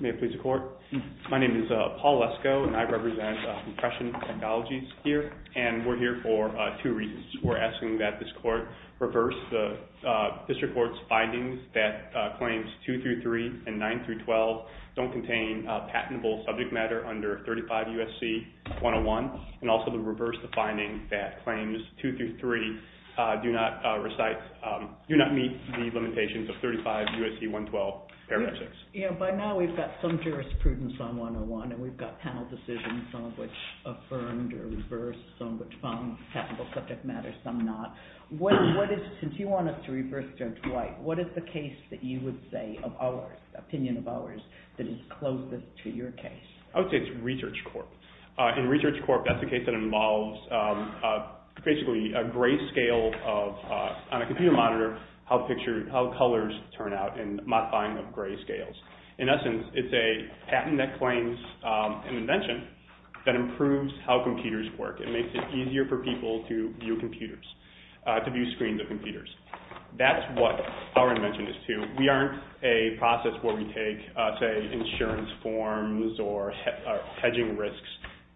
May it please the Court, my name is Paul Lesko and I represent Compression Technologies here and we're here for two reasons. We're asking that this Court reverse the District Court's findings that Claims 2-3 and 9-12 don't contain patentable subject matter under 35 U.S.C. 101 and also to reverse the finding that Claims 2-3 do not meet the limitations of 35 U.S.C. 112, paragraph 6. By now we've got some jurisprudence on 101 and we've got panel decisions, some of which affirmed or reversed, some which found patentable subject matter, some not. Since you want us to reverse Judge White, what is the case that you would opinion of ours that is closest to your case? I would say it's Research Corp. In Research Corp. that's the case that involves basically a gray scale on a computer monitor how colors turn out in modifying of gray scales. In essence, it's a patent that claims an invention that improves how computers work. It makes it easier for people to view screens of computers. That's what our invention is too. We aren't a process where we take, say, insurance forms or hedging risks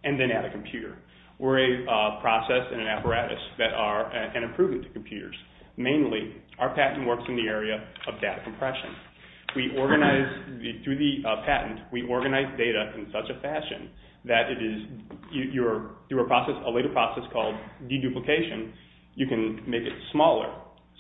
and then add a computer. We're a process and an apparatus that are an improvement to computers. Mainly, our patent works in the area of data compression. Through the patent, we organize data in such a fashion that through a process, a later process called deduplication, you can make it smaller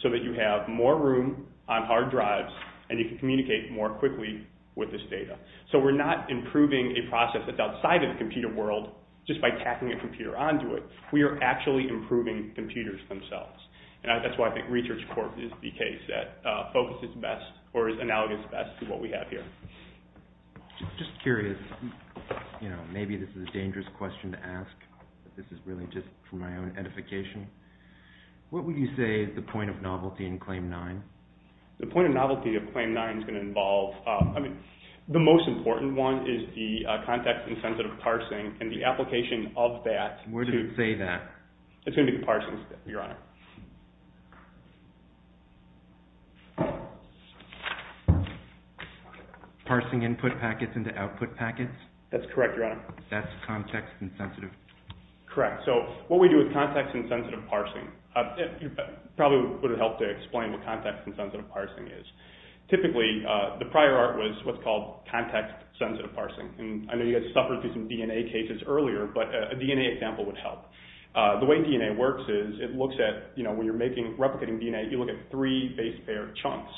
so that you have more room on hard drives and you can communicate more quickly with this data. We're not improving a process that's outside of the computer world just by tacking a computer onto it. We are actually improving computers themselves. That's why I think Research Corp. is the case that focuses best or is analogous best to what we have here. I'm just curious. Maybe this is a dangerous question to ask. This is really just for my own edification. What would you say is the point of novelty in Claim 9? The point of novelty of Claim 9 is going to involve... I mean, the most important one is the context-insensitive parsing and the application of that to... Where does it say that? It's going to be the parsing step, Your Honor. Parsing input packets into output packets? That's correct, Your Honor. That's context-insensitive? Correct. So what we do with context-insensitive parsing... It probably would have helped to explain what context-insensitive parsing is. Typically, the prior art was what's called context-sensitive parsing. I know you guys suffered through some DNA cases earlier, but a DNA example would help. The way DNA works is it looks at... It looks at what's called When you're replicating DNA, you look at three base pair chunks.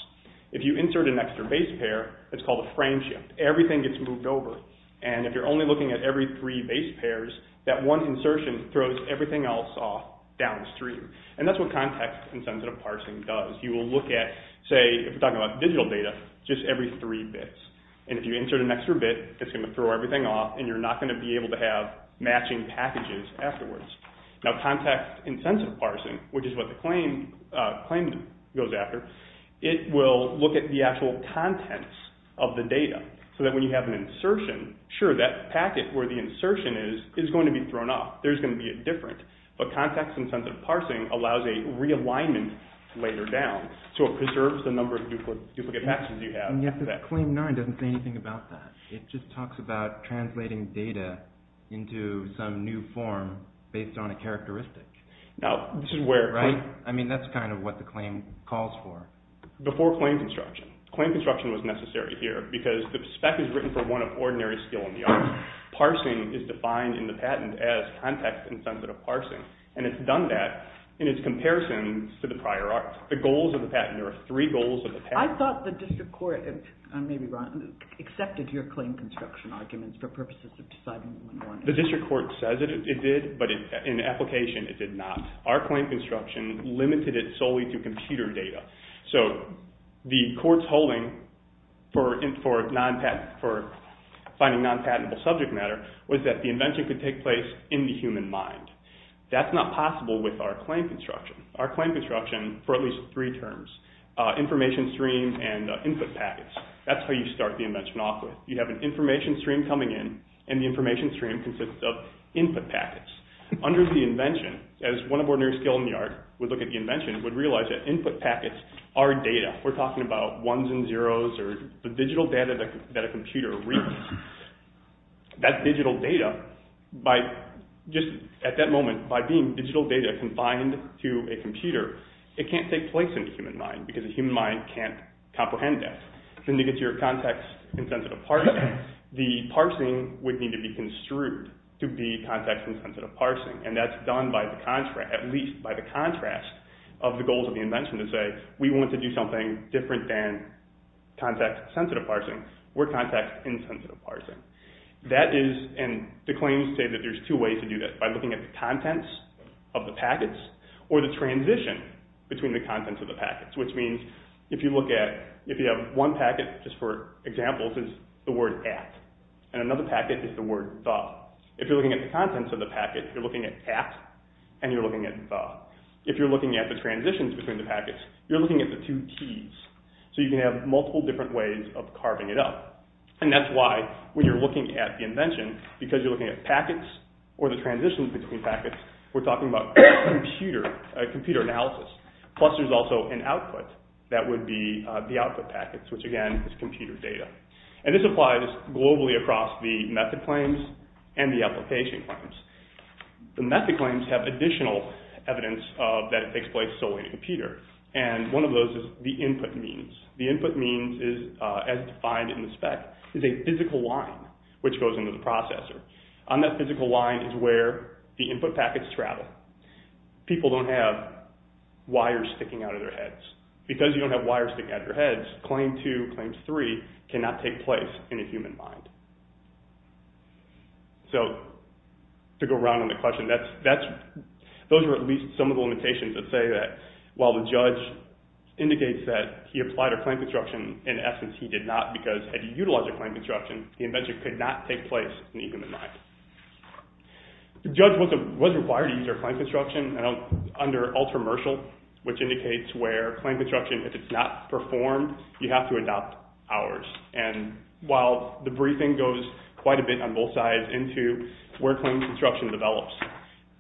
If you insert an extra base pair, it's called a frame shift. Everything gets moved over. And if you're only looking at every three base pairs, that one insertion throws everything else off downstream. And that's what context-insensitive parsing does. You will look at, say, if we're talking about digital data, just every three bits. And if you insert an extra bit, it's going to throw everything off, and you're not going to be able to have matching packages afterwards. Now, context-insensitive parsing, which is what the claimant goes after, it will look at the actual contents of the data, so that when you have an insertion, sure, that packet where the insertion is is going to be thrown off. There's going to be a difference. But context-insensitive parsing allows a realignment later down, so it preserves the number of duplicate matches you have. And yet the claim 9 doesn't say anything about that. It just talks about translating data into some new form based on a characteristic. Now, this is where... Right? I mean, that's kind of what the claim calls for. Before claim construction. Claim construction was necessary here, because the spec is written for one of ordinary skill in the arts. Parsing is defined in the patent as context-insensitive parsing. And it's done that in its comparison to the prior art. The goals of the patent, there are three goals of the patent. I thought the district court, maybe Ron, accepted your claim construction arguments for purposes of deciding... The district court says it did, but in application it did not. Our claim construction limited it solely to computer data. So the court's holding for finding non-patentable subject matter was that the invention could take place in the human mind. That's not possible with our claim construction. Our claim construction, for at least three terms, information streams and input packets. That's how you start the invention off with. You have an information stream coming in, and the information stream consists of input packets. Under the invention, as one of ordinary skill in the art would look at the invention, would realize that input packets are data. We're talking about ones and zeros, or the digital data that a computer reads. That digital data, just at that moment, by being digital data confined to a computer, it can't take place in the human mind, because the human mind can't comprehend that. Then you get your context-insensitive parsing. The parsing would need to be construed to be context-insensitive parsing, and that's done at least by the contrast of the goals of the invention to say, we want to do something different than context-sensitive parsing. We're context-insensitive parsing. That is, and the claims say that there's two ways to do that. By looking at the contents of the packets, or the transition between the contents of the packets, which means if you look at, if you have one packet, just for example, is the word at, and another packet is the word the. If you're looking at the contents of the packet, you're looking at at, and you're looking at the. If you're looking at the transitions between the packets, you're looking at the two Ts, so you can have multiple different ways of carving it up. That's why, when you're looking at the invention, because you're looking at packets, or the transitions between packets, we're talking about computer analysis. Plus there's also an output that would be the output packets, which again is computer data. And this applies globally across the method claims and the application claims. The method claims have additional evidence that it takes place solely in a computer, and one of those is the input means. The input means is, as defined in the spec, is a physical line which goes into the processor. On that physical line is where the input packets travel. People don't have wires sticking out of their heads. Because you don't have wires sticking out of your heads, Claim 2, Claim 3, cannot take place in a human mind. So, to go around on the question, those are at least some of the limitations that say that, while the judge indicates that he applied a claim construction, in essence he did not because, had he utilized a claim construction, the invention could not take place in the human mind. The judge was required to use our claim construction under Ultramershal, which indicates where claim construction, if it's not performed, you have to adopt ours. And while the briefing goes quite a bit on both sides into where claim construction develops,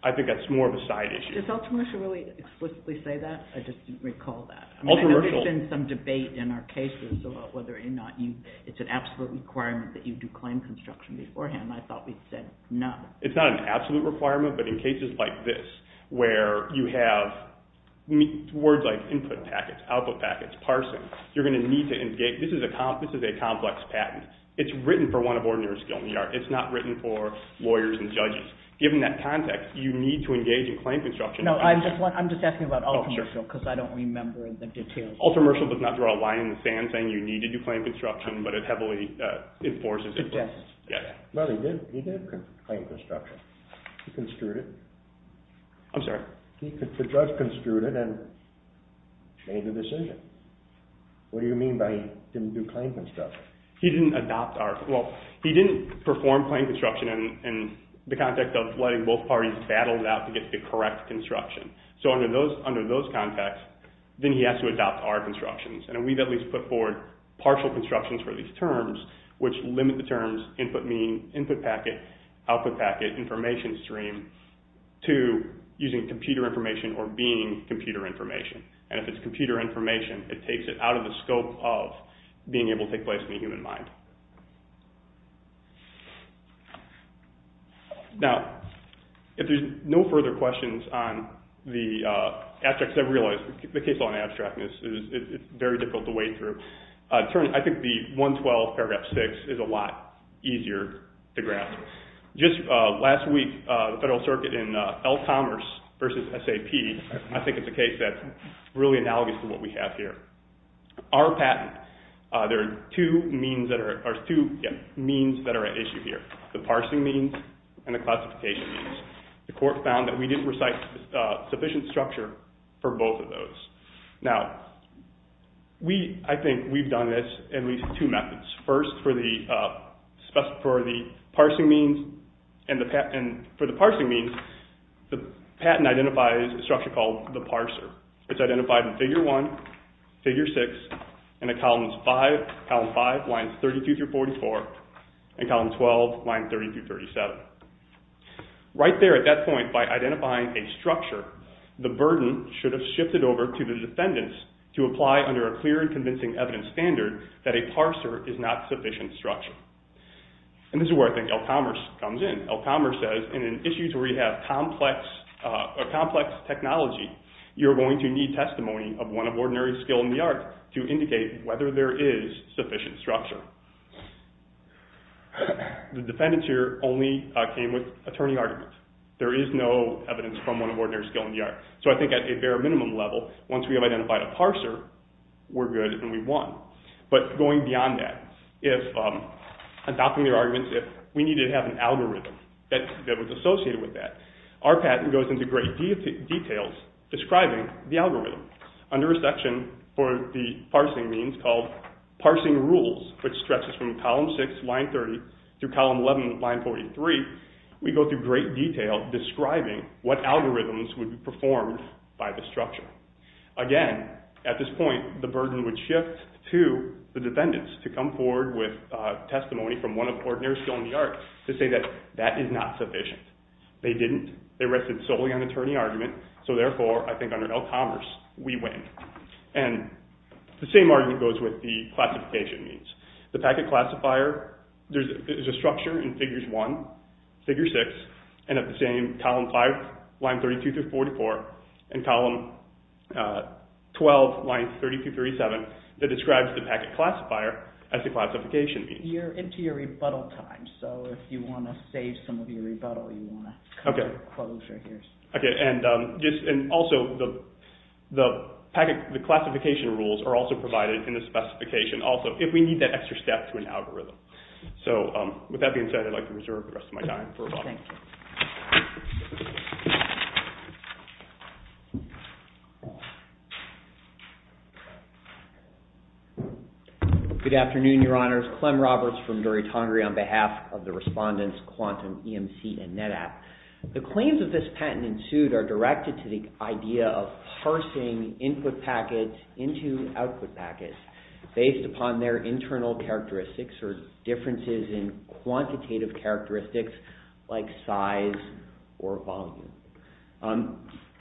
I think that's more of a side issue. Does Ultramershal really explicitly say that? I just didn't recall that. Ultramershal. I know there's been some debate in our cases about whether or not it's an absolute requirement that you do claim construction beforehand. I thought we said no. It's not an absolute requirement, but in cases like this, where you have words like input packets, output packets, parsing, you're going to need to engage, this is a complex patent. It's written for one of ordinary skill in the art. It's not written for lawyers and judges. Given that context, you need to engage in claim construction. No, I'm just asking about Ultramershal because I don't remember the details. Ultramershal does not throw a line in the sand saying you need to do claim construction, but it heavily enforces it. It does. Well, he did claim construction. He construed it. I'm sorry? The judge construed it and made the decision. What do you mean by he didn't do claim construction? He didn't adopt our, well, he didn't perform claim construction in the context of letting both parties battle it out to get the correct construction. So under those contexts, then he has to adopt our constructions, and we've at least put forward partial constructions for these terms, which limit the terms input packet, output packet, information stream to using computer information or being computer information. And if it's computer information, it takes it out of the scope of being able to take place in the human mind. Now, if there's no further questions on the abstract, because I realize the case law on 112 paragraph 6 is a lot easier to grasp. Just last week, the Federal Circuit in El Commerce versus SAP, I think it's a case that's really analogous to what we have here. Our patent, there are two means that are at issue here, the parsing means and the classification means. The court found that we didn't recite sufficient structure for both of those. Now, I think we've done this in at least two methods. First, for the parsing means, and for the parsing means, the patent identifies a structure called the parser. It's identified in Figure 1, Figure 6, and in Columns 5, lines 32 through 44, and Columns 12, lines 30 through 37. Right there at that point, by identifying a structure, the burden should have shifted over to the defendants to apply under a clear and convincing evidence standard that a parser is not sufficient structure. And this is where I think El Commerce comes in. El Commerce says, in issues where you have complex technology, you're going to need testimony of one of ordinary skill in the art to indicate whether there is sufficient structure. The defendants here only came with attorney arguments. There is no evidence from one of ordinary skill in the art. So I think at a bare minimum level, once we have identified a parser, we're good and we've won. But going beyond that, adopting their arguments, we need to have an algorithm that was associated with that. Our patent goes into great detail describing the algorithm. Under a section for the parsing means called parsing rules, which stretches from Column 6, line 30, through Column 11, line 43, we go through great detail describing what algorithms would be performed by the structure. Again, at this point, the burden would shift to the defendants to come forward with testimony from one of ordinary skill in the art to say that that is not sufficient. They didn't. They rested solely on attorney argument. So therefore, I think under El Commerce, we win. And the same argument goes with the classification means. The packet classifier is a structure in Figures 1, Figure 6, and at the same, Column 5, line 32-44, and Column 12, line 32-37, that describes the packet classifier as the classification means. You're into your rebuttal time, so if you want to save some of your rebuttal, you want to come to a closure here. And also, the classification rules are also provided in the specification also if we need that extra step to an algorithm. So with that being said, I'd like to reserve the rest of my time for rebuttal. Thank you. Good afternoon, Your Honors. Clem Roberts from Dory Tongary on behalf of the respondents, Quantum, EMC, and NetApp. The claims of this patent ensued are directed to the idea of parsing input packets into output packets based upon their internal characteristics or differences in quantitative characteristics like size or volume.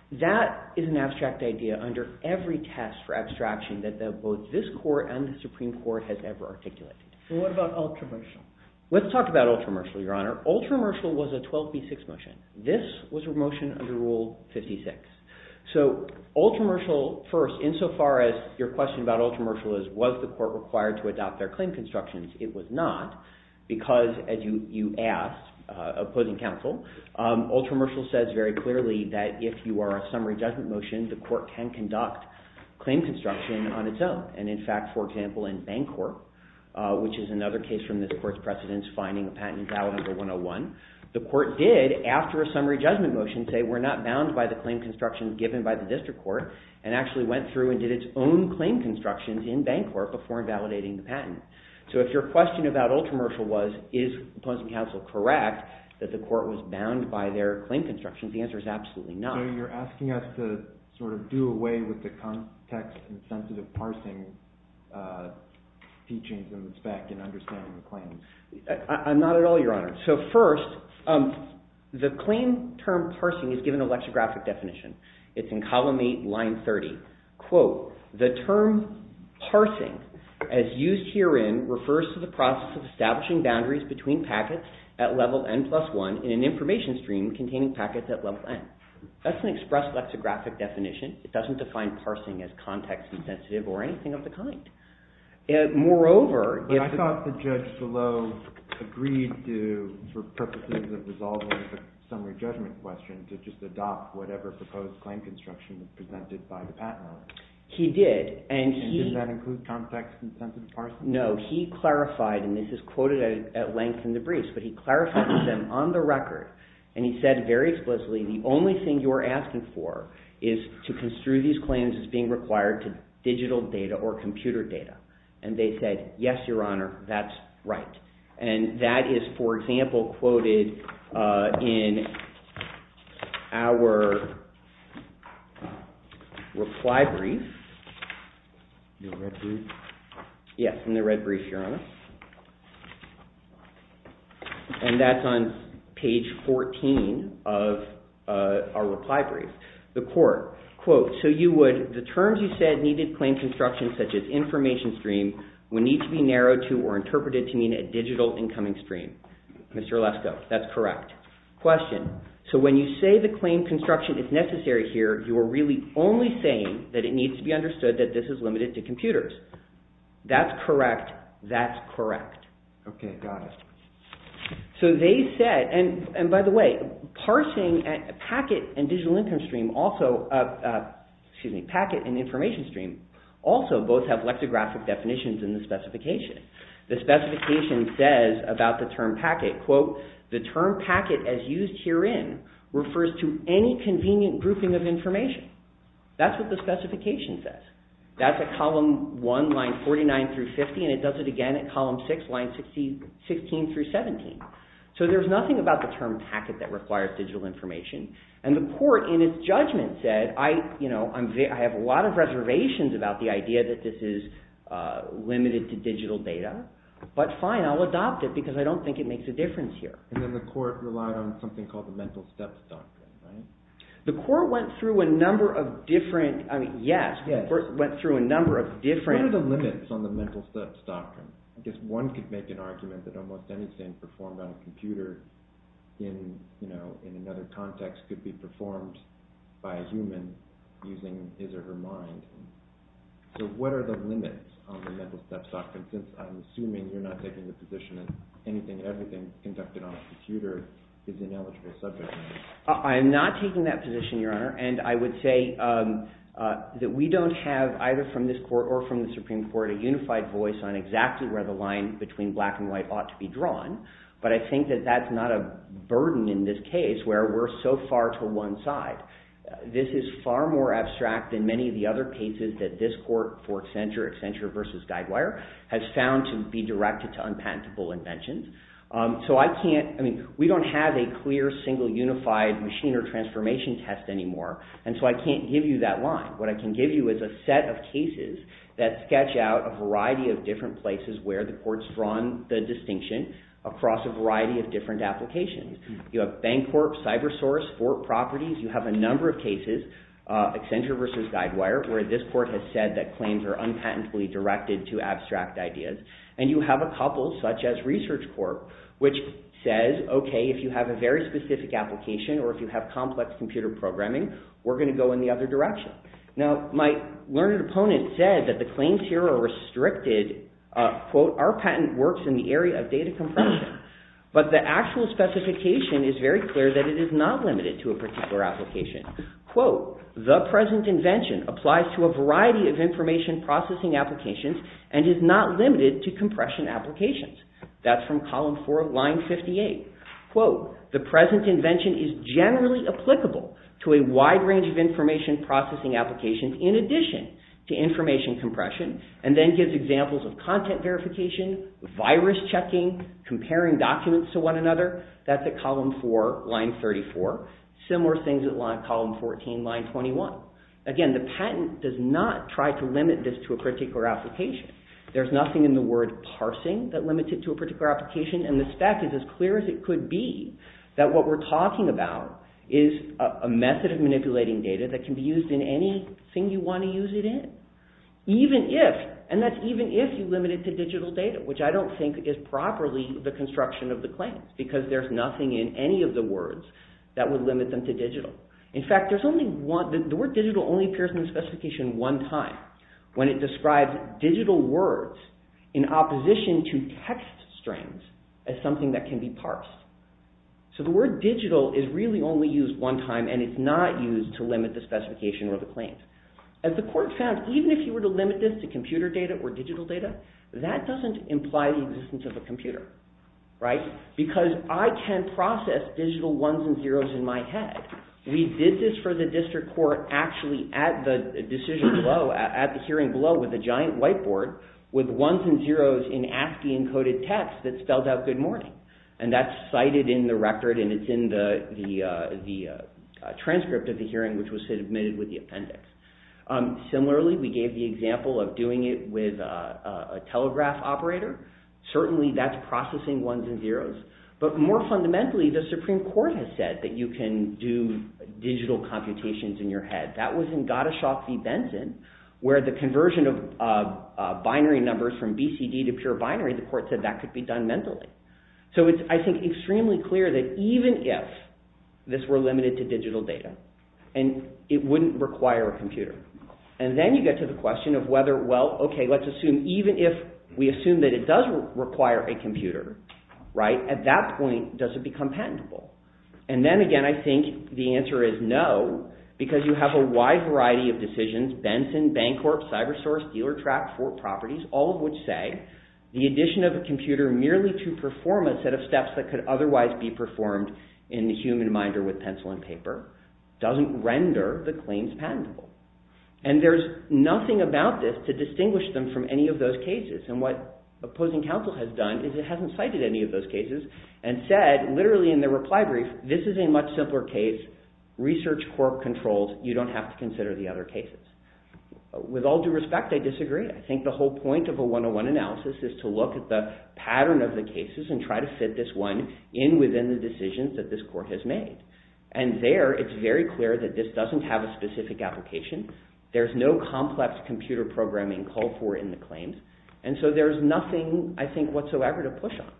That is an abstract idea under every test for abstraction that both this Court and the Supreme Court has ever articulated. So what about ultra-mercial? Let's talk about ultra-mercial, Your Honor. Ultra-mercial was a 12b6 motion. This was a motion under Rule 56. So ultra-mercial first, insofar as your question about ultra-mercial is was the Court required to adopt their claim constructions, it was not because, as you asked, opposing counsel, ultra-mercial says very clearly that if you are a summary judgment motion, the Court can conduct claim construction on its own. And in fact, for example, in Bancorp, which is another case from this Court's precedence, finding a patent invalid under 101, the Court did, after a summary judgment motion, say we're not bound by the claim construction given by the district court and actually went through and did its own claim constructions in Bancorp before invalidating the patent. So if your question about ultra-mercial was is opposing counsel correct that the Court was bound by their claim constructions, the answer is absolutely not. So you're asking us to sort of do away with the context and sensitive parsing teachings in the spec and understanding the claims. I'm not at all, Your Honor. So first, the claim term parsing is given an electrographic definition. It's in column 8, line 30. Quote, the term parsing, as used herein, refers to the process of establishing boundaries between packets at level N plus 1 in an information stream containing packets at level N. That's an express lexicographic definition. It doesn't define parsing as context-sensitive or anything of the kind. Moreover, if- But I thought the judge below agreed to, for purposes of resolving the summary judgment question, to just adopt whatever proposed claim construction was presented by the patent office. He did, and he- And did that include context-sensitive parsing? No, he clarified, and this is quoted at length in the briefs, but he clarified to them on the record, and he said very explicitly, the only thing you're asking for is to construe these claims as being required to digital data or computer data. And they said, yes, Your Honor, that's right. And that is, for example, quoted in our reply brief. The red brief? Yes, in the red brief, Your Honor. And that's on page 14 of our reply brief. The court, quote, so you would- Mr. Alesko, that's correct. Question. So when you say the claim construction is necessary here, you are really only saying that it needs to be understood that this is limited to computers. That's correct. That's correct. Okay, got it. So they said, and by the way, parsing packet and digital income stream also- excuse me, packet and information stream also both have lexicographic definitions in the specification. The specification says about the term packet, quote, the term packet as used herein refers to any convenient grouping of information. That's what the specification says. That's at column one, line 49 through 50, and it does it again at column six, line 16 through 17. So there's nothing about the term packet that requires digital information. And the court, in its judgment, said, I have a lot of reservations about the idea that this is limited to digital data. But fine, I'll adopt it because I don't think it makes a difference here. And then the court relied on something called the Mental Steps Doctrine, right? The court went through a number of different- I mean, yes, the court went through a number of different- What are the limits on the Mental Steps Doctrine? I guess one could make an argument that almost anything performed on a computer in another context could be performed by a human using his or her mind. So what are the limits on the Mental Steps Doctrine since I'm assuming you're not taking the position that anything, everything conducted on a computer is ineligible subject matter. I'm not taking that position, Your Honor. And I would say that we don't have, either from this court or from the Supreme Court, a unified voice on exactly where the line between black and white ought to be drawn. But I think that that's not a burden in this case where we're so far to one side. This is far more abstract than many of the other cases that this court for Accenture, Accenture v. Guidewire, has found to be directed to unpatentable inventions. So I can't- I mean, we don't have a clear, single, unified machine or transformation test anymore. And so I can't give you that line. What I can give you is a set of cases that sketch out a variety of different places where the court's drawn the distinction across a variety of different applications. You have Bancorp, CyberSource, Fort Properties. You have a number of cases, Accenture v. Guidewire, where this court has said that claims are unpatently directed to abstract ideas. And you have a couple, such as ResearchCorp, which says, okay, if you have a very specific application or if you have complex computer programming, we're going to go in the other direction. Now, my learned opponent said that the claims here are restricted. Quote, our patent works in the area of data compression. But the actual specification is very clear that it is not limited to a particular application. Quote, the present invention applies to a variety of information processing applications and is not limited to compression applications. That's from column four of line 58. Quote, the present invention is generally applicable to a wide range of information processing applications in addition to information compression, and then gives examples of content verification, virus checking, comparing documents to one another. That's at column four, line 34. Similar things at column 14, line 21. Again, the patent does not try to limit this to a particular application. There's nothing in the word parsing that limits it to a particular application, and the spec is as clear as it could be that what we're talking about is a method of manipulating data that can be used in anything you want to use it in. And that's even if you limit it to digital data, which I don't think is properly the construction of the claims, because there's nothing in any of the words that would limit them to digital. In fact, the word digital only appears in the specification one time when it describes digital words in opposition to text strings as something that can be parsed. So the word digital is really only used one time, and it's not used to limit the specification or the claims. As the court found, even if you were to limit this to computer data or digital data, that doesn't imply the existence of a computer, because I can process digital ones and zeros in my head. We did this for the district court actually at the decision below, at the hearing below with a giant whiteboard with ones and zeros in ASCII-encoded text that spelled out good morning. And that's cited in the record, and it's in the transcript of the hearing, which was submitted with the appendix. Similarly, we gave the example of doing it with a telegraph operator. Certainly, that's processing ones and zeros. But more fundamentally, the Supreme Court has said that you can do digital computations in your head. That was in Gottschalk v. Benson, where the conversion of binary numbers from BCD to pure binary, the court said that could be done mentally. So it's, I think, extremely clear that even if this were limited to digital data, it wouldn't require a computer. And then you get to the question of whether, well, okay, let's assume even if we assume that it does require a computer, at that point, does it become patentable? And then again, I think the answer is no, because you have a wide variety of decisions, Benson, Bancorp, CyberSource, DealerTrack, Fort Properties, all of which say the addition of a computer merely to perform a set of steps that could otherwise be performed in the human mind or with pencil and paper doesn't render the claims patentable. And there's nothing about this to distinguish them from any of those cases. And what opposing counsel has done is it hasn't cited any of those cases and said, literally in the reply brief, this is a much simpler case. Research court controls. You don't have to consider the other cases. With all due respect, I disagree. I think the whole point of a 101 analysis is to look at the pattern of the cases and try to fit this one in within the decisions that this court has made. And there, it's very clear that this doesn't have a specific application. There's no complex computer programming called for in the claims. And so there's nothing, I think, whatsoever to push on.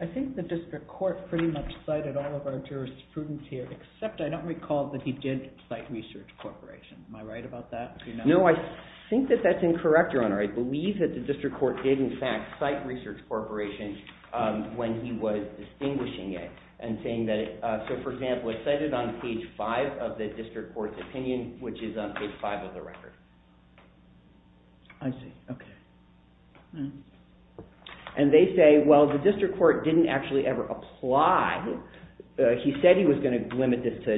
I think the district court pretty much cited all of our jurisprudence here, except I don't recall that he did cite Research Corporation. Am I right about that? No, I think that that's incorrect, Your Honor. I believe that the district court did, in fact, cite Research Corporation when he was distinguishing it and saying that it – so, for example, it's cited on page 5 of the district court's opinion, which is on page 5 of the record. I see. Okay. And they say, well, the district court didn't actually ever apply. He said he was going to limit this to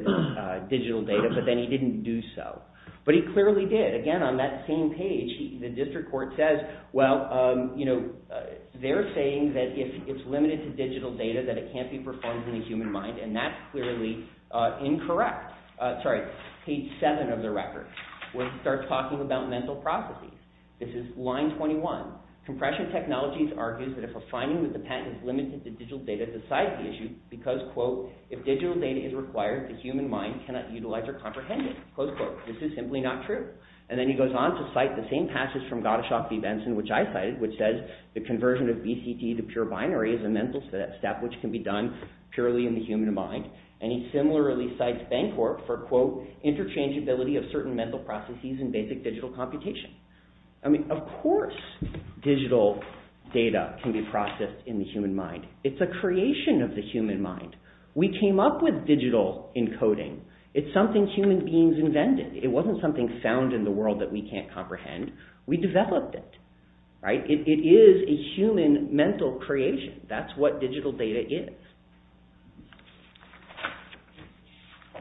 digital data, but then he didn't do so. But he clearly did. Again, on that same page, the district court says, well, you know, they're saying that if it's limited to digital data, that it can't be performed in the human mind, and that's clearly incorrect. Now, sorry, page 7 of the record, where he starts talking about mental processes. This is line 21. Compression Technologies argues that if a finding of the patent is limited to digital data, to cite the issue because, quote, if digital data is required, the human mind cannot utilize or comprehend it. Close quote. This is simply not true. And then he goes on to cite the same passage from Gottschalk v. Benson, which I cited, which says the conversion of BCT to pure binary is a mental step, which can be done purely in the human mind. And he similarly cites Bancorp for, quote, interchangeability of certain mental processes in basic digital computation. I mean, of course digital data can be processed in the human mind. It's a creation of the human mind. We came up with digital encoding. It's something human beings invented. It wasn't something found in the world that we can't comprehend. We developed it, right? It is a human mental creation. That's what digital data is.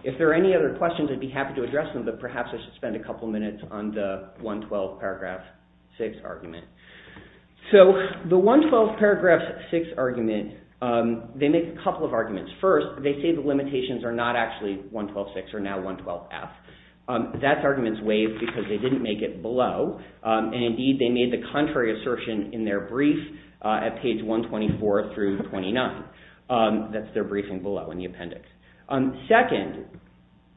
If there are any other questions, I'd be happy to address them, but perhaps I should spend a couple minutes on the 112 paragraph 6 argument. So the 112 paragraph 6 argument, they make a couple of arguments. First, they say the limitations are not actually 112.6 or now 112.f. That argument is waived because they didn't make it below. And indeed, they made the contrary assertion in their brief at page 124 through 29. That's their briefing below in the appendix. Second,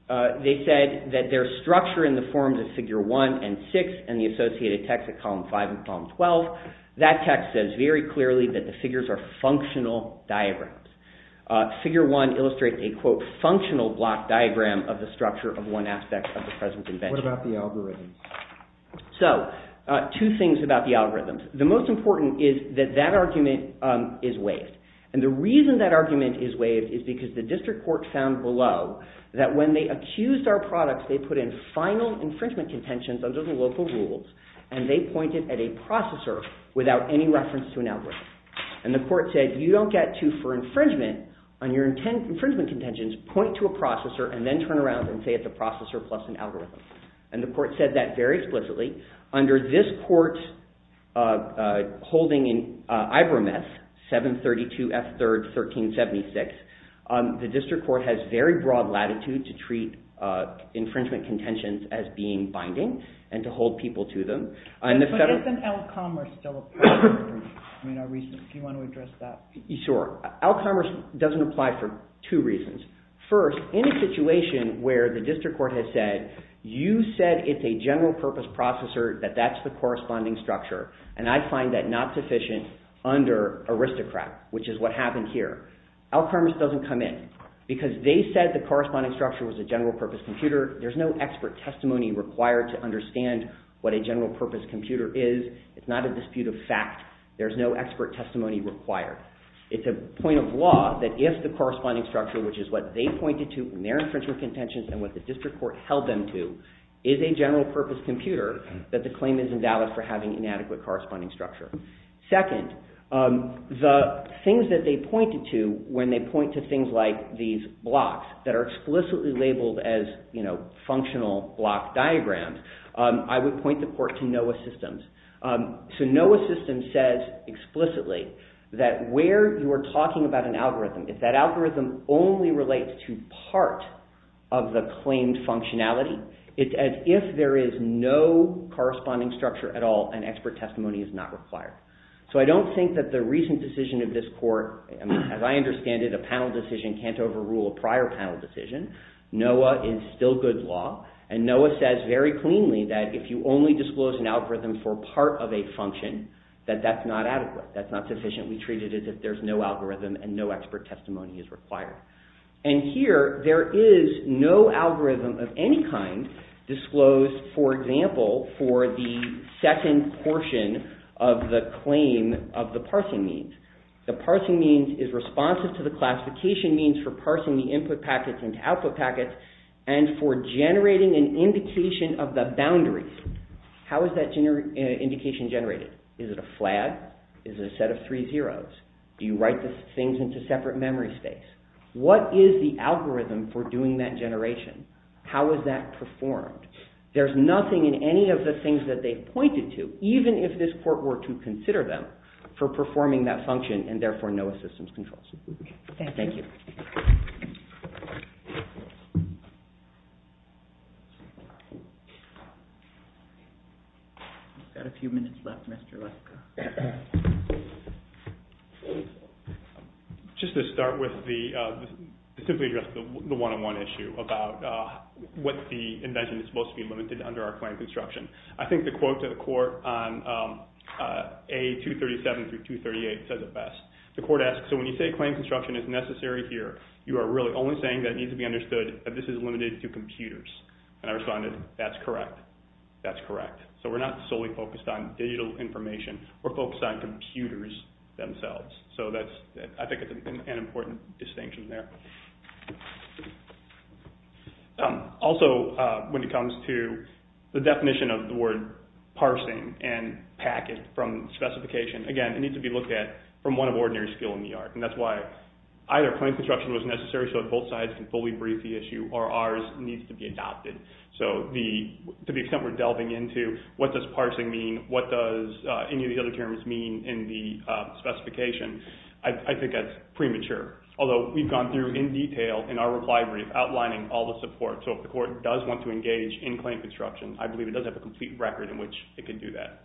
they said that their structure in the forms of figure 1 and 6 and the associated text at column 5 and column 12, that text says very clearly that the figures are functional diagrams. Figure 1 illustrates a, quote, functional block diagram of the structure of one aspect of the present invention. What about the algorithms? So two things about the algorithms. The most important is that that argument is waived. And the reason that argument is waived is because the district court found below that when they accused our products, they put in final infringement contentions under the local rules, and they pointed at a processor without any reference to an algorithm. And the court said, you don't get to, for infringement, on your infringement contentions, point to a processor and then turn around and say it's a processor plus an algorithm. And the court said that very explicitly. Under this court holding in Ibram S. 732f3rd 1376, the district court has very broad latitude to treat infringement contentions as being binding and to hold people to them. But doesn't Alcommerce still apply? Do you want to address that? Sure. Alcommerce doesn't apply for two reasons. First, in a situation where the district court has said, you said it's a general purpose processor, that that's the corresponding structure, and I find that not sufficient under Aristocrat, which is what happened here. Alcommerce doesn't come in. Because they said the corresponding structure was a general purpose computer, there's no expert testimony required to understand what a general purpose computer is. It's not a dispute of fact. There's no expert testimony required. It's a point of law that if the corresponding structure, which is what they pointed to in their infringement contentions and what the district court held them to, is a general purpose computer, that the claim is invalid for having inadequate corresponding structure. Second, the things that they pointed to when they point to things like these blocks that are explicitly labeled as functional block diagrams, I would point the court to NOAA systems. So NOAA system says explicitly that where you are talking about an algorithm, if that algorithm only relates to part of the claimed functionality, it's as if there is no corresponding structure at all and expert testimony is not required. So I don't think that the recent decision of this court, as I understand it, a panel decision can't overrule a prior panel decision. NOAA is still good law. And NOAA says very cleanly that if you only disclose an algorithm for part of a function, that that's not adequate. That's not sufficiently treated as if there's no algorithm and no expert testimony is required. And here there is no algorithm of any kind disclosed, for example, for the second portion of the claim of the parsing means. The parsing means is responsive to the classification means for parsing the input packets into output packets and for generating an indication of the boundaries. How is that indication generated? Is it a flag? Is it a set of three zeros? Do you write the things into separate memory space? What is the algorithm for doing that generation? How is that performed? There's nothing in any of the things that they've pointed to, even if this court were to consider them, for performing that function and therefore NOAA systems controls. Thank you. We've got a few minutes left, Mr. Lesko. Just to start with, to simply address the one-on-one issue about what the invention is supposed to be limited under our claim construction. I think the quote to the court on A237 through 238 says it best. The court asks, so when you say claim construction is necessary here, you are really only saying that it needs to be understood that this is limited to computers. And I responded, that's correct. That's correct. So we're not solely focused on digital information or focused on computers themselves. So I think it's an important distinction there. Also, when it comes to the definition of the word parsing and packet from specification. Again, it needs to be looked at from one of ordinary skill in the art. And that's why either claim construction was necessary so that both sides can fully brief the issue or ours needs to be adopted. So to the extent we're delving into what does parsing mean, what does any of the other terms mean in the specification, I think that's premature. Although we've gone through in detail in our reply brief outlining all the support. So if the court does want to engage in claim construction, I believe it does have a complete record in which it can do that.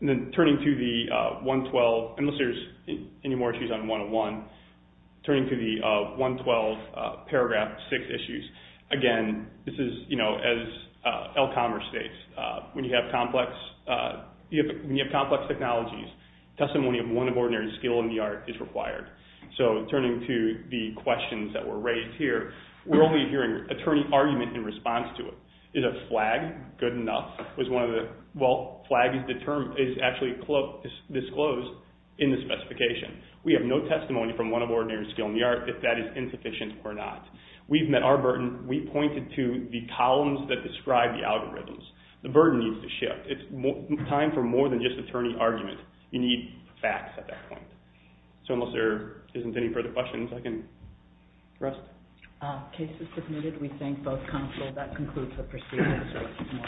And then turning to the 112, unless there's any more issues on one-on-one, turning to the 112 paragraph six issues. Again, this is, you know, as Elkhammer states, when you have complex technologies, testimony of one of ordinary skill in the art is required. So turning to the questions that were raised here, we're only hearing attorney argument in response to it. Is a flag good enough? Well, flag is actually disclosed in the specification. We have no testimony from one of ordinary skill in the art if that is insufficient or not. We've met our burden. We pointed to the columns that describe the algorithms. The burden needs to shift. It's time for more than just attorney argument. You need facts at that point. So unless there isn't any further questions, I can rest. Case is submitted. We thank both counsel. That concludes the proceedings.